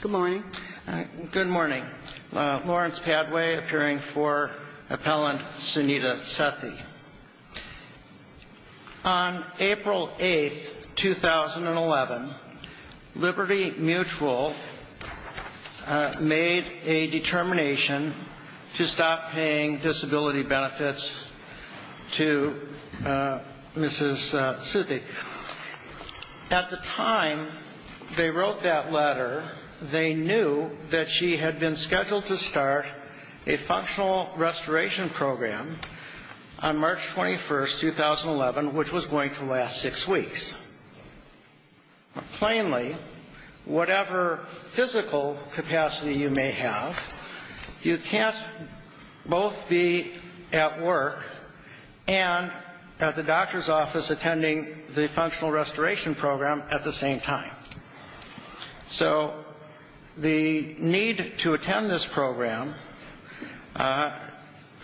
Good morning. Good morning. Lawrence Padway appearing for appellant Sunita Sethi. On April 8th 2011 Liberty Mutual made a determination to stop paying disability benefits to Mrs. Sethi. At the time they wrote that they knew that she had been scheduled to start a functional restoration program on March 21st 2011 which was going to last six weeks. Plainly whatever physical capacity you may have you can't both be at work and at the doctor's office attending the functional restoration program at the same time. So the need to attend this program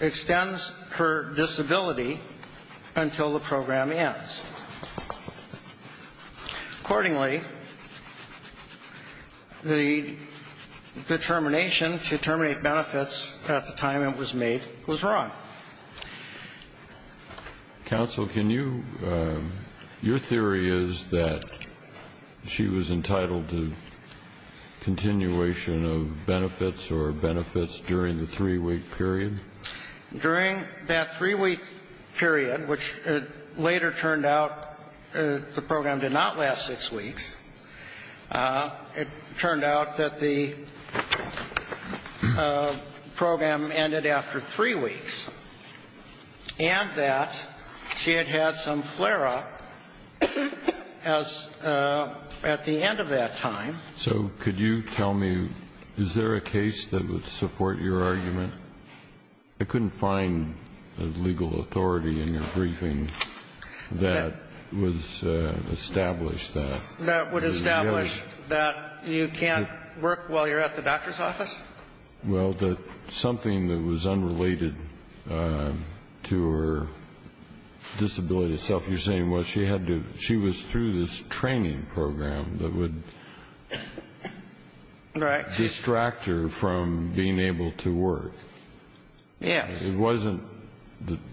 extends her disability until the program ends. Accordingly the determination to terminate benefits at the time it was made was wrong. Counsel, can you, your theory is that she was entitled to continuation of benefits or benefits during the three-week period? During that three-week period which later turned out the program did not last six weeks, it turned out that the program ended after three weeks and that she had had some flare-up as at the end of that time. So could you tell me is there a case that would support your argument? I couldn't find a legal authority in your briefing that was established that. That would establish that you can't work while you're at the doctor's office? Well something that was unrelated to her disability itself, you're saying she was through this training program that would distract her from being able to work? Yes. It wasn't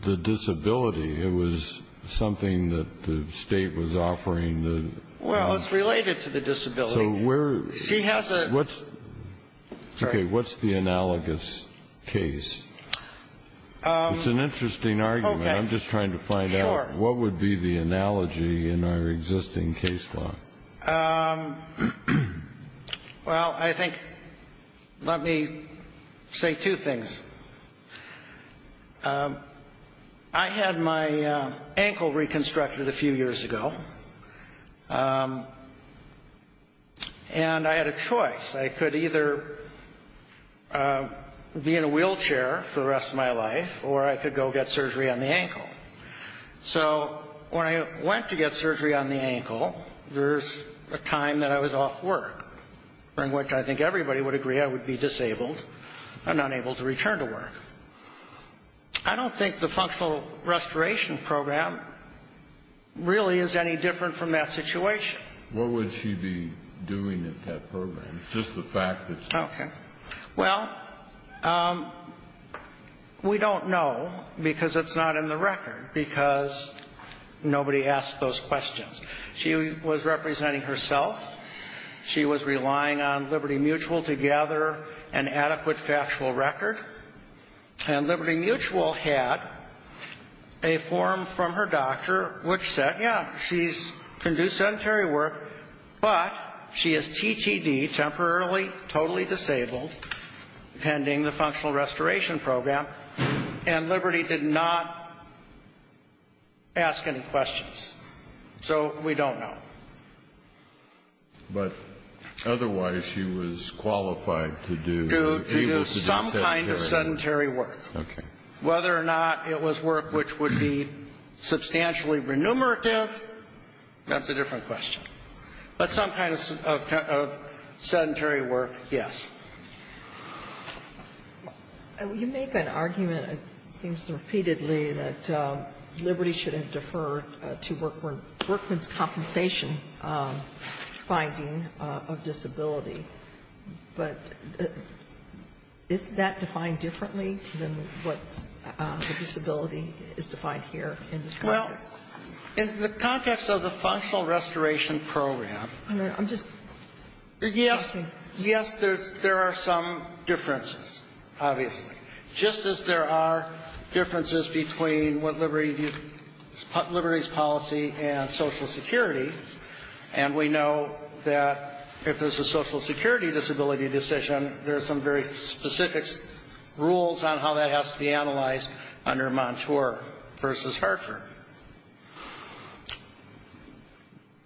the disability, it was something that the state was offering. Well it's related to the disability. So what's the analogous case? It's an interesting argument. I'm just trying to find out what would be the analogy in our existing case law? Well I think let me say two things. I had my ankle reconstructed a few years ago and I had a choice. I could either be in a wheelchair for the rest of my life or I could go get surgery on the ankle. So when I went to get surgery on the ankle, there's a time that I was off work, in which I think everybody would agree I would be disabled and unable to return to work. I don't think the functional restoration program really is any different from that situation. What would she be doing in that program? Just the fact that she's disabled. Okay. Well we don't know because it's not in the record because nobody asked those questions. She was representing herself. She was relying on Liberty Mutual to gather an adequate factual record. And Liberty Mutual had a form from her doctor which said, yeah, she can do sedentary work, but she is TTD, temporarily totally disabled, pending the functional restoration program. And Liberty did not ask any questions. So we don't know. But otherwise she was qualified to do, able to do sedentary work. To do some kind of sedentary work. Okay. Whether or not it was work which would be substantially renumerative, that's a different question. But some kind of sedentary work, yes. And you make an argument, it seems repeatedly, that Liberty shouldn't defer to Berkman's compensation finding of disability. But isn't that defined differently than what's the disability is defined here in this context? Well, in the context of the functional restoration program. I'm just guessing. Yes. Yes, there's, there are some differences, obviously. Just as there are differences between what Liberty, Liberty's policy and Social Security. And we know that if there's a Social Security disability decision, there's some very specific rules on how that has to be analyzed under Montour v. Hartford.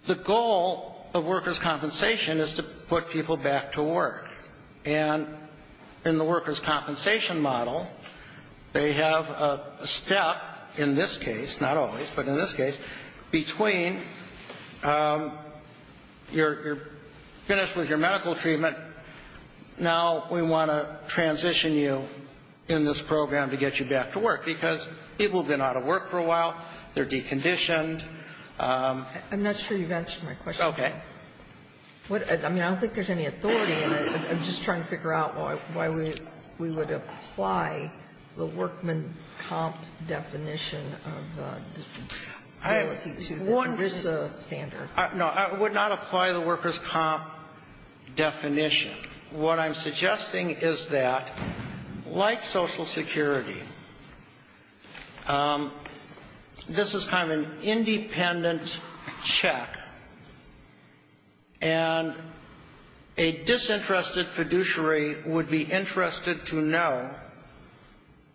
The goal of workers' compensation is to put people back to work. And in the workers' compensation model, they have a step, in this case, not always, but in this case, between you're finished with your medical treatment, now we want to transition you in this program to get you back to work, because people have been out of work for a while, they're deconditioned. I'm not sure you've answered my question. Okay. I mean, I don't think there's any authority in it. I'm just trying to figure out why we would apply the workman comp definition of disability to the ERISA standard. I would not apply the workers' comp definition. What I'm suggesting is that, like Social Security, this is kind of an independent check, and a disinterested fiduciary would be interested to know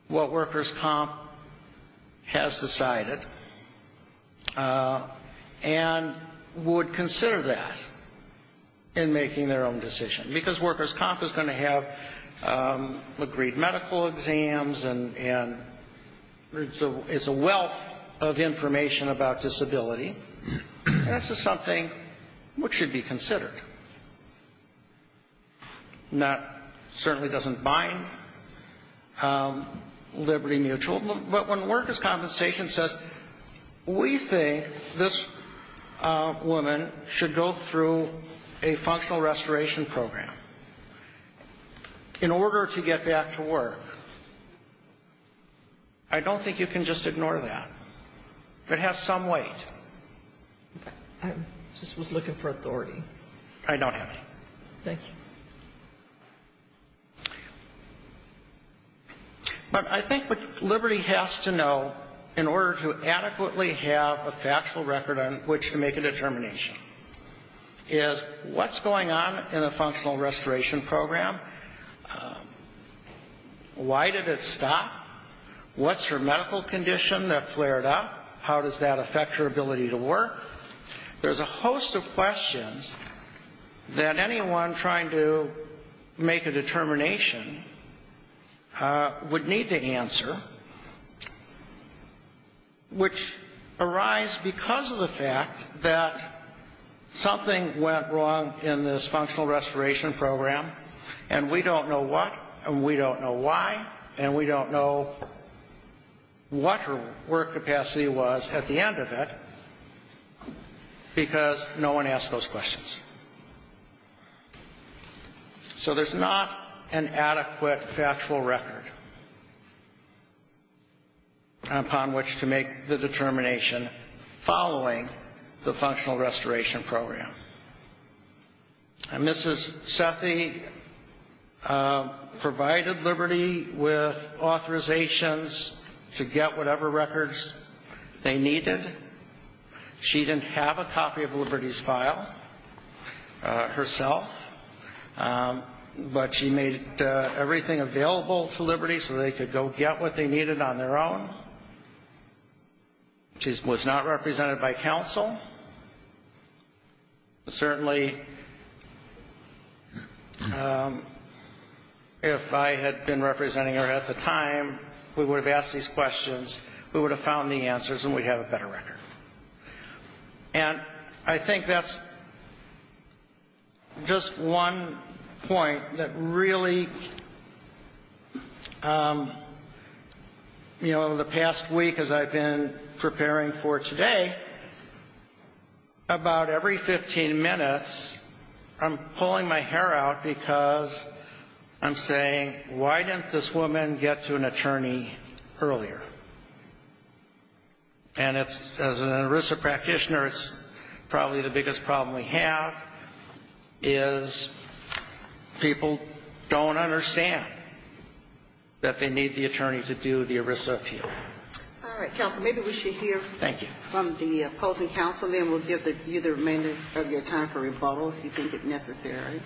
what workers' comp has decided, and would consider that in making their own decision. Because workers' comp is going to have agreed medical exams, and it's a wealth of information about disability. This is something which should be considered. That certainly doesn't bind Liberty Mutual. But when workers' compensation says, we think this woman should go through a functional restoration program, in order to get back to work, I don't think you can just ignore that. It has some weight. I just was looking for authority. I don't have any. Thank you. But I think what Liberty has to know, in order to adequately have a factual record on which to make a determination, is what's going on in a functional restoration program? Why did it stop? What's her medical condition that flared up? How does that affect her ability to work? There's a host of questions that anyone trying to make a determination would need to answer, which arise because of the fact that something went wrong in this functional restoration program, and we don't know what, and we don't know why, and we don't know what her work capacity was at the end of it, because no one asked those questions. So there's not an adequate factual record upon which to make the determination following the functional restoration program. And Mrs. Sethi provided Liberty with authorizations to get whatever records they needed. She didn't have a copy of Liberty's file herself, but she made everything available to Liberty so they could go get what they needed on their own. She was not represented by counsel. Certainly, if I had been representing her at the time, we would have asked these questions, we would have found the answers, and we'd have a better record. And I think that's just one point that really, you know, the past week as I've been preparing for today, about every 15 minutes, I'm pulling my hair out because I'm saying, why didn't this woman get to an attorney earlier? And as an ERISA practitioner, it's probably the biggest problem we have is people don't understand that they need the attorney to do the ERISA appeal. All right, counsel, maybe we should hear from the opposing counsel, and then we'll give you the remainder of your time for rebuttal, if you think it necessary.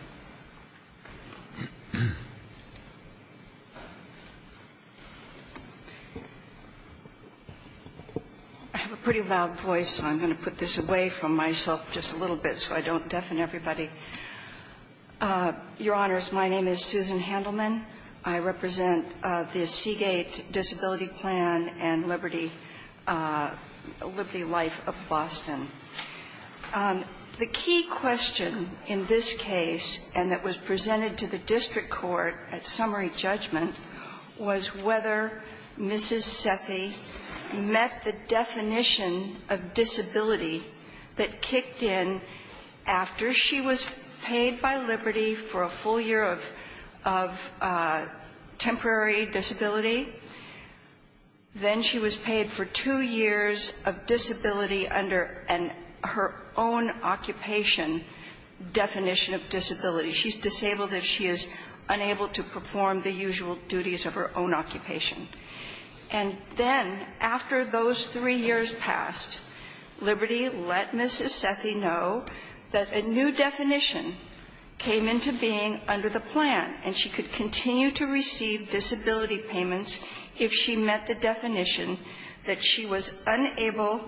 I have a pretty loud voice, so I'm going to put this away from myself just a little bit so I don't deafen everybody. Your Honors, my name is Susan Handelman. I represent the Seagate Disability Plan and Liberty Life of Boston. The key question in this case and that was presented to the district court at summary judgment was whether Mrs. Sethi met the definition of disability that kicked in after she was paid by Liberty for a full year of temporary disability. Then she was paid for two years of disability under her own occupation definition of disability. She's disabled if she is unable to perform the usual duties of her own occupation. And then, after those three years passed, Liberty let Mrs. Sethi know that a new definition came into being under the plan, and she could continue to receive disability payments if she met the definition that she was unable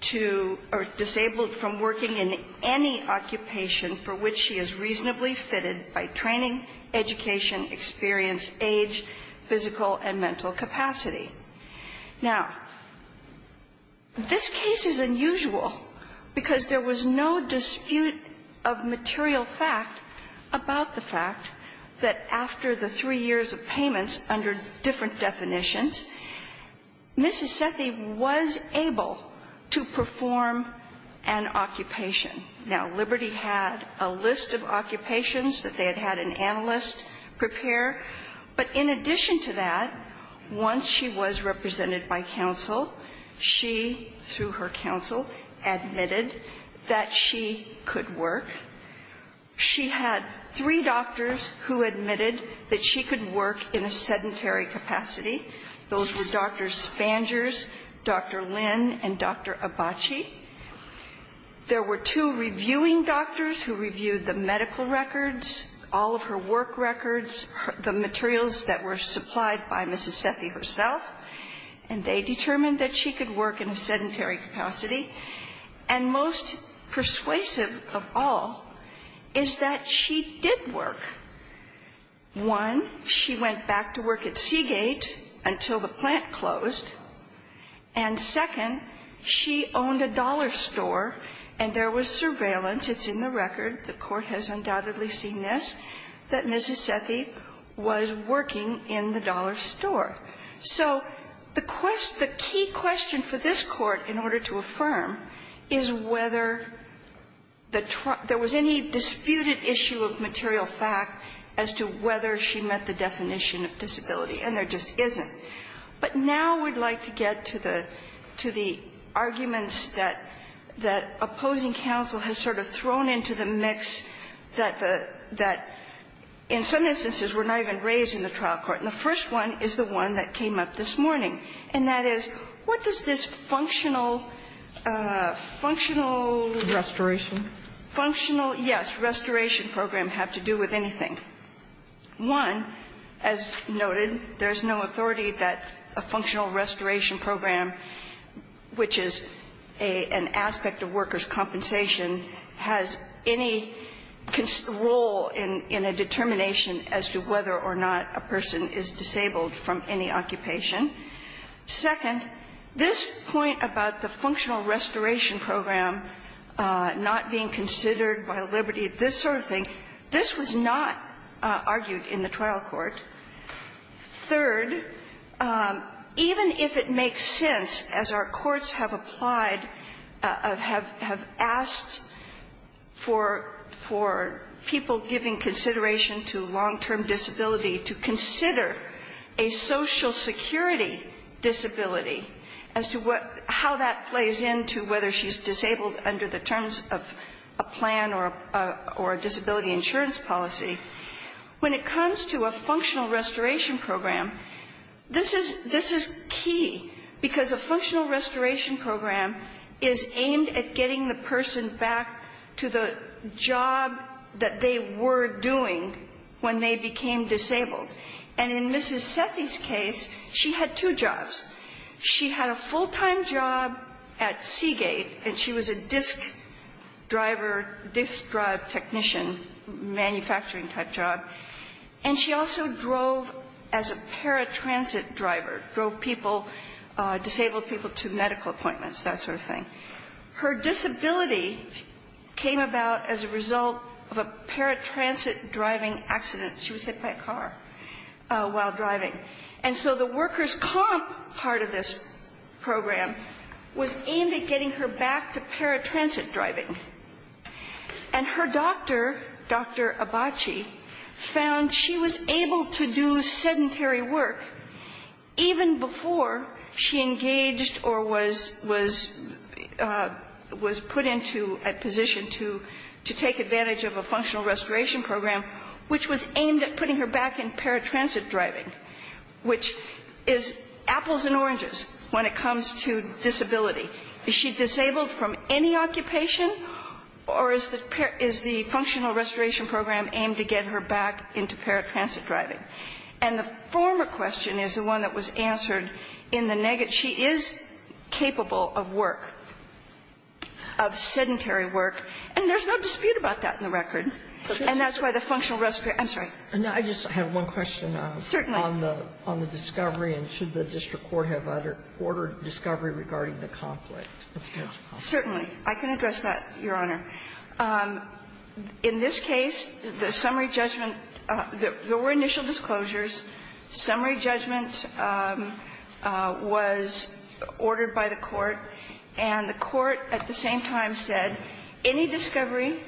to or disabled from working in any occupation for which she is reasonably fitted by training, education, experience, age, physical, and mental capacity. Now, this case is unusual because there was no dispute of material fact about the fact that after the three years of payments under different definitions, Mrs. Sethi was able to perform an occupation. Now, Liberty had a list of occupations that they had had an occupation that was represented by counsel. She, through her counsel, admitted that she could work. She had three doctors who admitted that she could work in a sedentary capacity. Those were Dr. Spangers, Dr. Lynn, and Dr. Abachi. There were two reviewing doctors who reviewed the medical records, all of her work records, the materials that were supplied by Mrs. Sethi herself, and they determined that she could work in a sedentary capacity. And most persuasive of all is that she did work. One, she went back to work at Seagate until the plant closed. And second, she owned a dollar store, and there was surveillance — it's in the record, the Court has undoubtedly seen this — that Mrs. Sethi was working in the dollar store. So the key question for this Court, in order to affirm, is whether there was any disputed issue of material fact as to whether she met the definition of disability. And there just isn't. But now we'd like to get to the arguments that opposing counsel has sort of thrown into the mix that, in some instances, were not even raised in the trial court. And the first one is the one that came up this morning, and that is, what does this functional — functional — Restoration. Functional, yes. Restoration program have to do with anything. One, as noted, there's no authority that a functional restoration program, which is an aspect of workers' compensation, has any role in a determination as to whether or not a person is disabled from any occupation. Second, this point about the functional restoration program not being considered by liberty, this sort of thing, this was not argued in the trial court. Third, even if it makes sense, as our courts have applied, have — have asked for — for people giving consideration to long-term disability to consider a Social Security disability as to what — how that plays into whether she's disabled under the terms of a plan or a disability insurance policy, when it comes to a functional restoration program, this is — this is key, because a functional restoration program is aimed at getting the person back to the job that they were doing when they became disabled. And in Mrs. Sethi's case, she had two jobs. She had a full-time job at Seagate, and she was a disc driver — disc drive technician, manufacturing-type job. And she also drove as a paratransit driver, drove people — disabled people to medical appointments, that sort of thing. Her disability came about as a result of a paratransit driving accident. She was hit by a car while driving. And so the workers' comp part of this program was aimed at getting her back to paratransit driving. And her doctor, Dr. Abbaci, found she was able to do sedentary work even before she engaged or was — was — was put into a position to — to take advantage of a functional restoration program, which was aimed at putting her back in paratransit driving, which is apples and oranges when it comes to disability. Is she disabled from any occupation, or is the — is the functional restoration program aimed to get her back into paratransit driving? And the former question is the one that was answered in the negative. She is capable of work, of sedentary work, and there's no dispute about that in the record. And that's why the functional — I'm sorry. Sotomayor. And I just have one question. Certainly. On the — on the discovery, and should the district court have ordered discovery regarding the conflict? Certainly. I can address that, Your Honor. In this case, the summary judgment — there were initial disclosures. Summary judgment was ordered by the court, and the court at the same time said any discovery,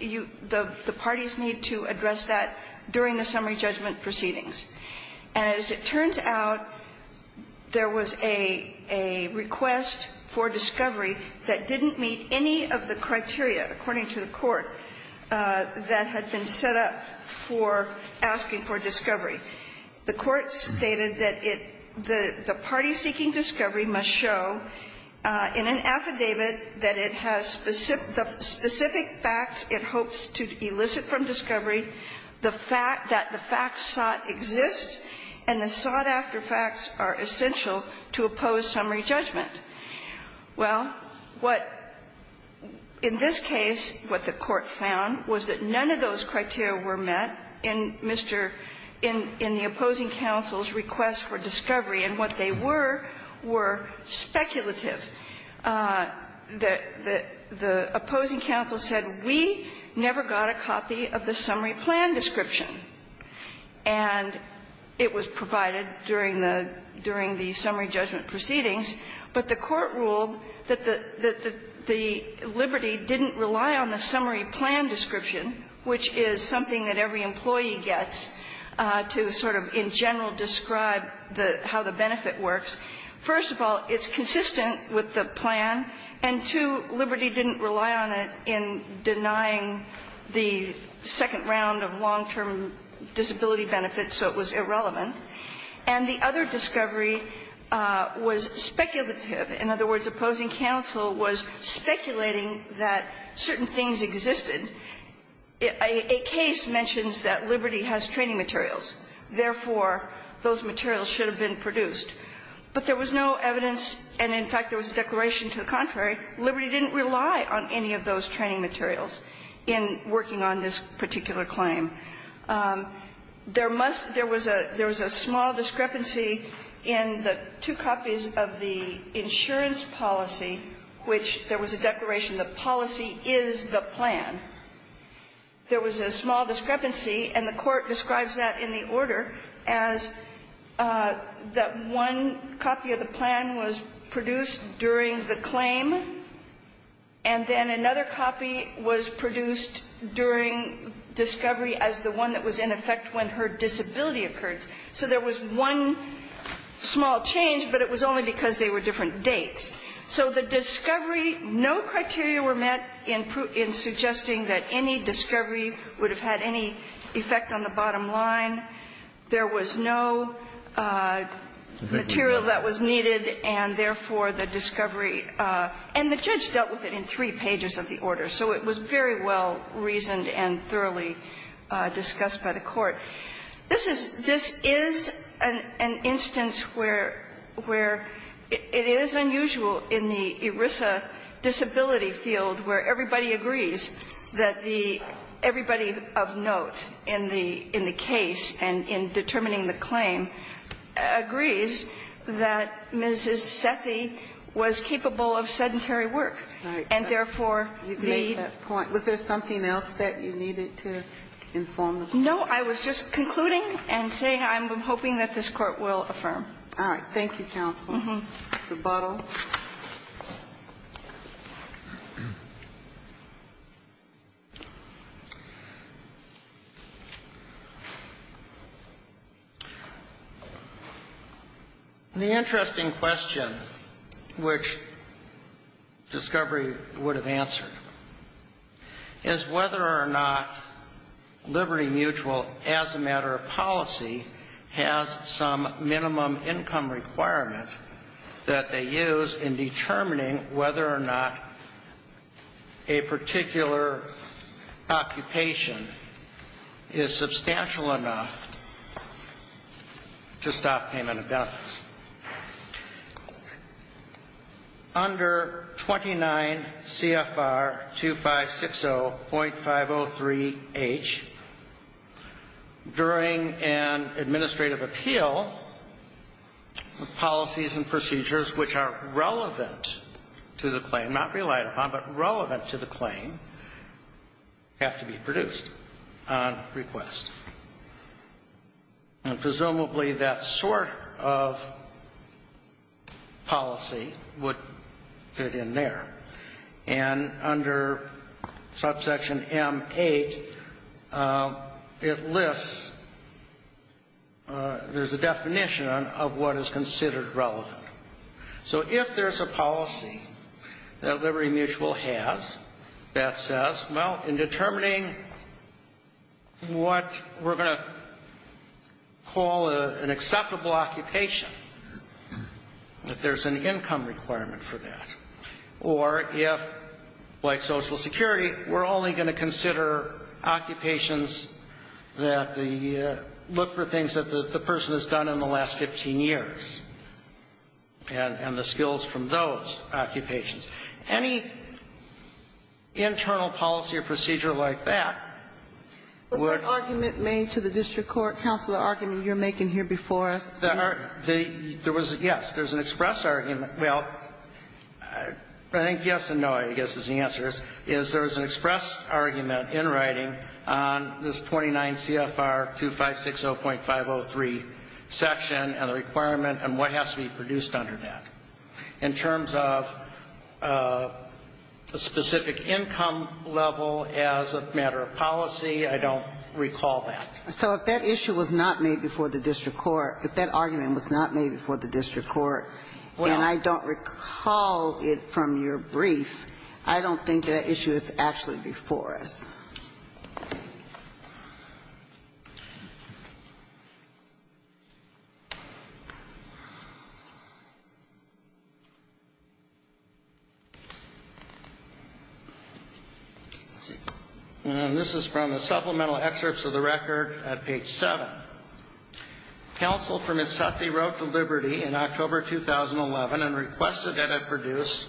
you — the parties need to address that during the summary judgment proceedings. And as it turns out, there was a — a request for discovery that didn't meet any of the criteria, according to the court, that had been set up for asking for discovery. The court stated that it — the party seeking discovery must show in an affidavit that it has specific — the specific facts it hopes to elicit from discovery, the fact that the facts sought exist, and the sought-after facts are essential to oppose summary judgment. Well, what — in this case, what the court found was that in the opposing counsel's request for discovery, and what they were, were speculative. The — the opposing counsel said, we never got a copy of the summary plan description. And it was provided during the — during the summary judgment proceedings. But the court ruled that the — that the liberty didn't rely on the summary plan description, which is something that every employee gets to sort of in general describe the — how the benefit works. First of all, it's consistent with the plan. And two, liberty didn't rely on it in denying the second round of long-term disability benefits, so it was irrelevant. And the other discovery was speculative. In other words, opposing counsel was speculating that certain things existed. A case mentions that liberty has training materials, therefore, those materials should have been produced. But there was no evidence, and in fact, there was a declaration to the contrary, liberty didn't rely on any of those training materials in working on this particular claim. There must — there was a — there was a small discrepancy in the two copies of the insurance policy, which there was a declaration the policy is the plan. There was a small discrepancy, and the Court describes that in the order as that one copy of the plan was produced during the claim, and then another copy was produced during discovery as the one that was in effect when her disability occurred. So there was one small change, but it was only because they were different dates. So the discovery, no criteria were met in suggesting that any discovery would have had any effect on the bottom line. There was no material that was needed, and therefore, the discovery — and the judge dealt with it in three pages of the order, so it was very well reasoned and thoroughly discussed by the Court. This is — this is an instance where — where it is unusual in the ERISA disability field where everybody agrees that the — everybody of note in the — in the case and in determining the claim agrees that Mrs. Sethi was capable of sedentary work, and therefore, the — Ginsburg. You've made that point. No, I was just concluding and saying I'm hoping that this Court will affirm. All right. Thank you, counsel. The bottle. The interesting question which discovery would have answered is whether or not Liberty as a matter of policy has some minimum income requirement that they use in determining whether or not a particular occupation is substantial enough to stop payment of During an administrative appeal, policies and procedures which are relevant to the claim, not relied upon, but relevant to the claim, have to be produced on request. And presumably, that sort of policy would fit in there. And under subsection M8, it lists — there's a definition of what is considered relevant. So if there's a policy that Liberty Mutual has that says, well, in determining what we're going to call an acceptable occupation, if there's an income requirement for that, or if, like Social Security, we're only going to consider occupations that the — look for things that the person has done in the last 15 years, and the skills from those occupations. Any internal policy or procedure like that would Was that argument made to the district court, counsel, the argument you're making here before us? Yes. There's an express argument. Well, I think yes and no, I guess, is the answer is, is there was an express argument in writing on this 29 CFR 2560.503 section and the requirement and what has to be produced under that. In terms of a specific income level as a matter of policy, I don't recall that. So if that issue was not made before the district court, if that argument was not made before the district court, and I don't recall it from your brief, I don't think that issue is actually before us. Let's see. And this is from the supplemental excerpts of the record at page 7. Counsel for Misethi wrote to Liberty in October 2011 and requested that it produce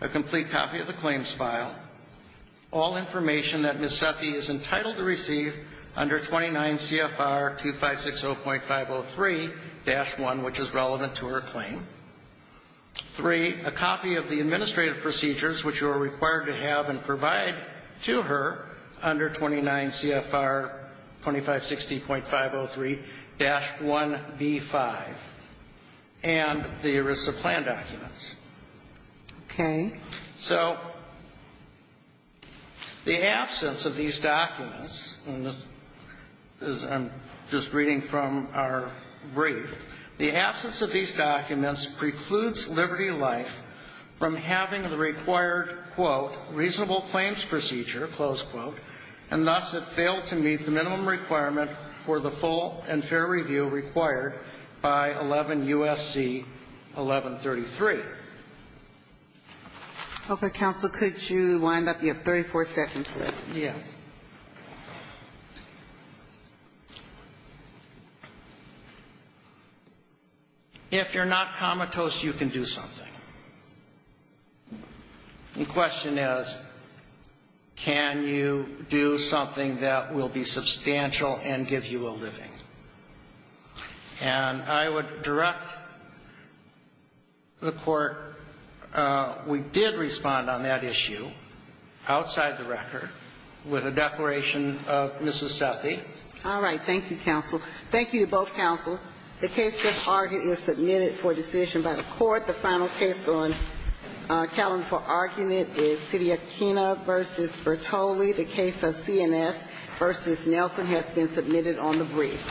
a complete copy of the claims file, all information that Misethi is entitled to receive under 29 CFR 2560.503-1, which is relevant to her claim, three, a copy of the administrative procedures which you are required to have and provide to her under 29 CFR 2560.503-1B5 and the ERISA plan documents. Okay. So the absence of these documents, and this is, I'm just reading from our brief. The absence of these documents precludes Liberty Life from having the required, quote, reasonable claims procedure, close quote, and thus it failed to meet the minimum requirement for the full and fair review required by 11 U.S.C. 1133. Okay. Counsel, could you wind up? You have 34 seconds left. Yes. If you're not comatose, you can do something. The question is, can you do something that will be substantial and give you a living? And I would direct the Court, we did respond on that issue outside the record with a declaration of Misethi. All right. Thank you, counsel. Thank you to both counsel. The case thus argued is submitted for decision by the Court. The final case on account for argument is Sidi Aquino v. Bertoli, the case of CNS v. Nelson has been submitted on the brief.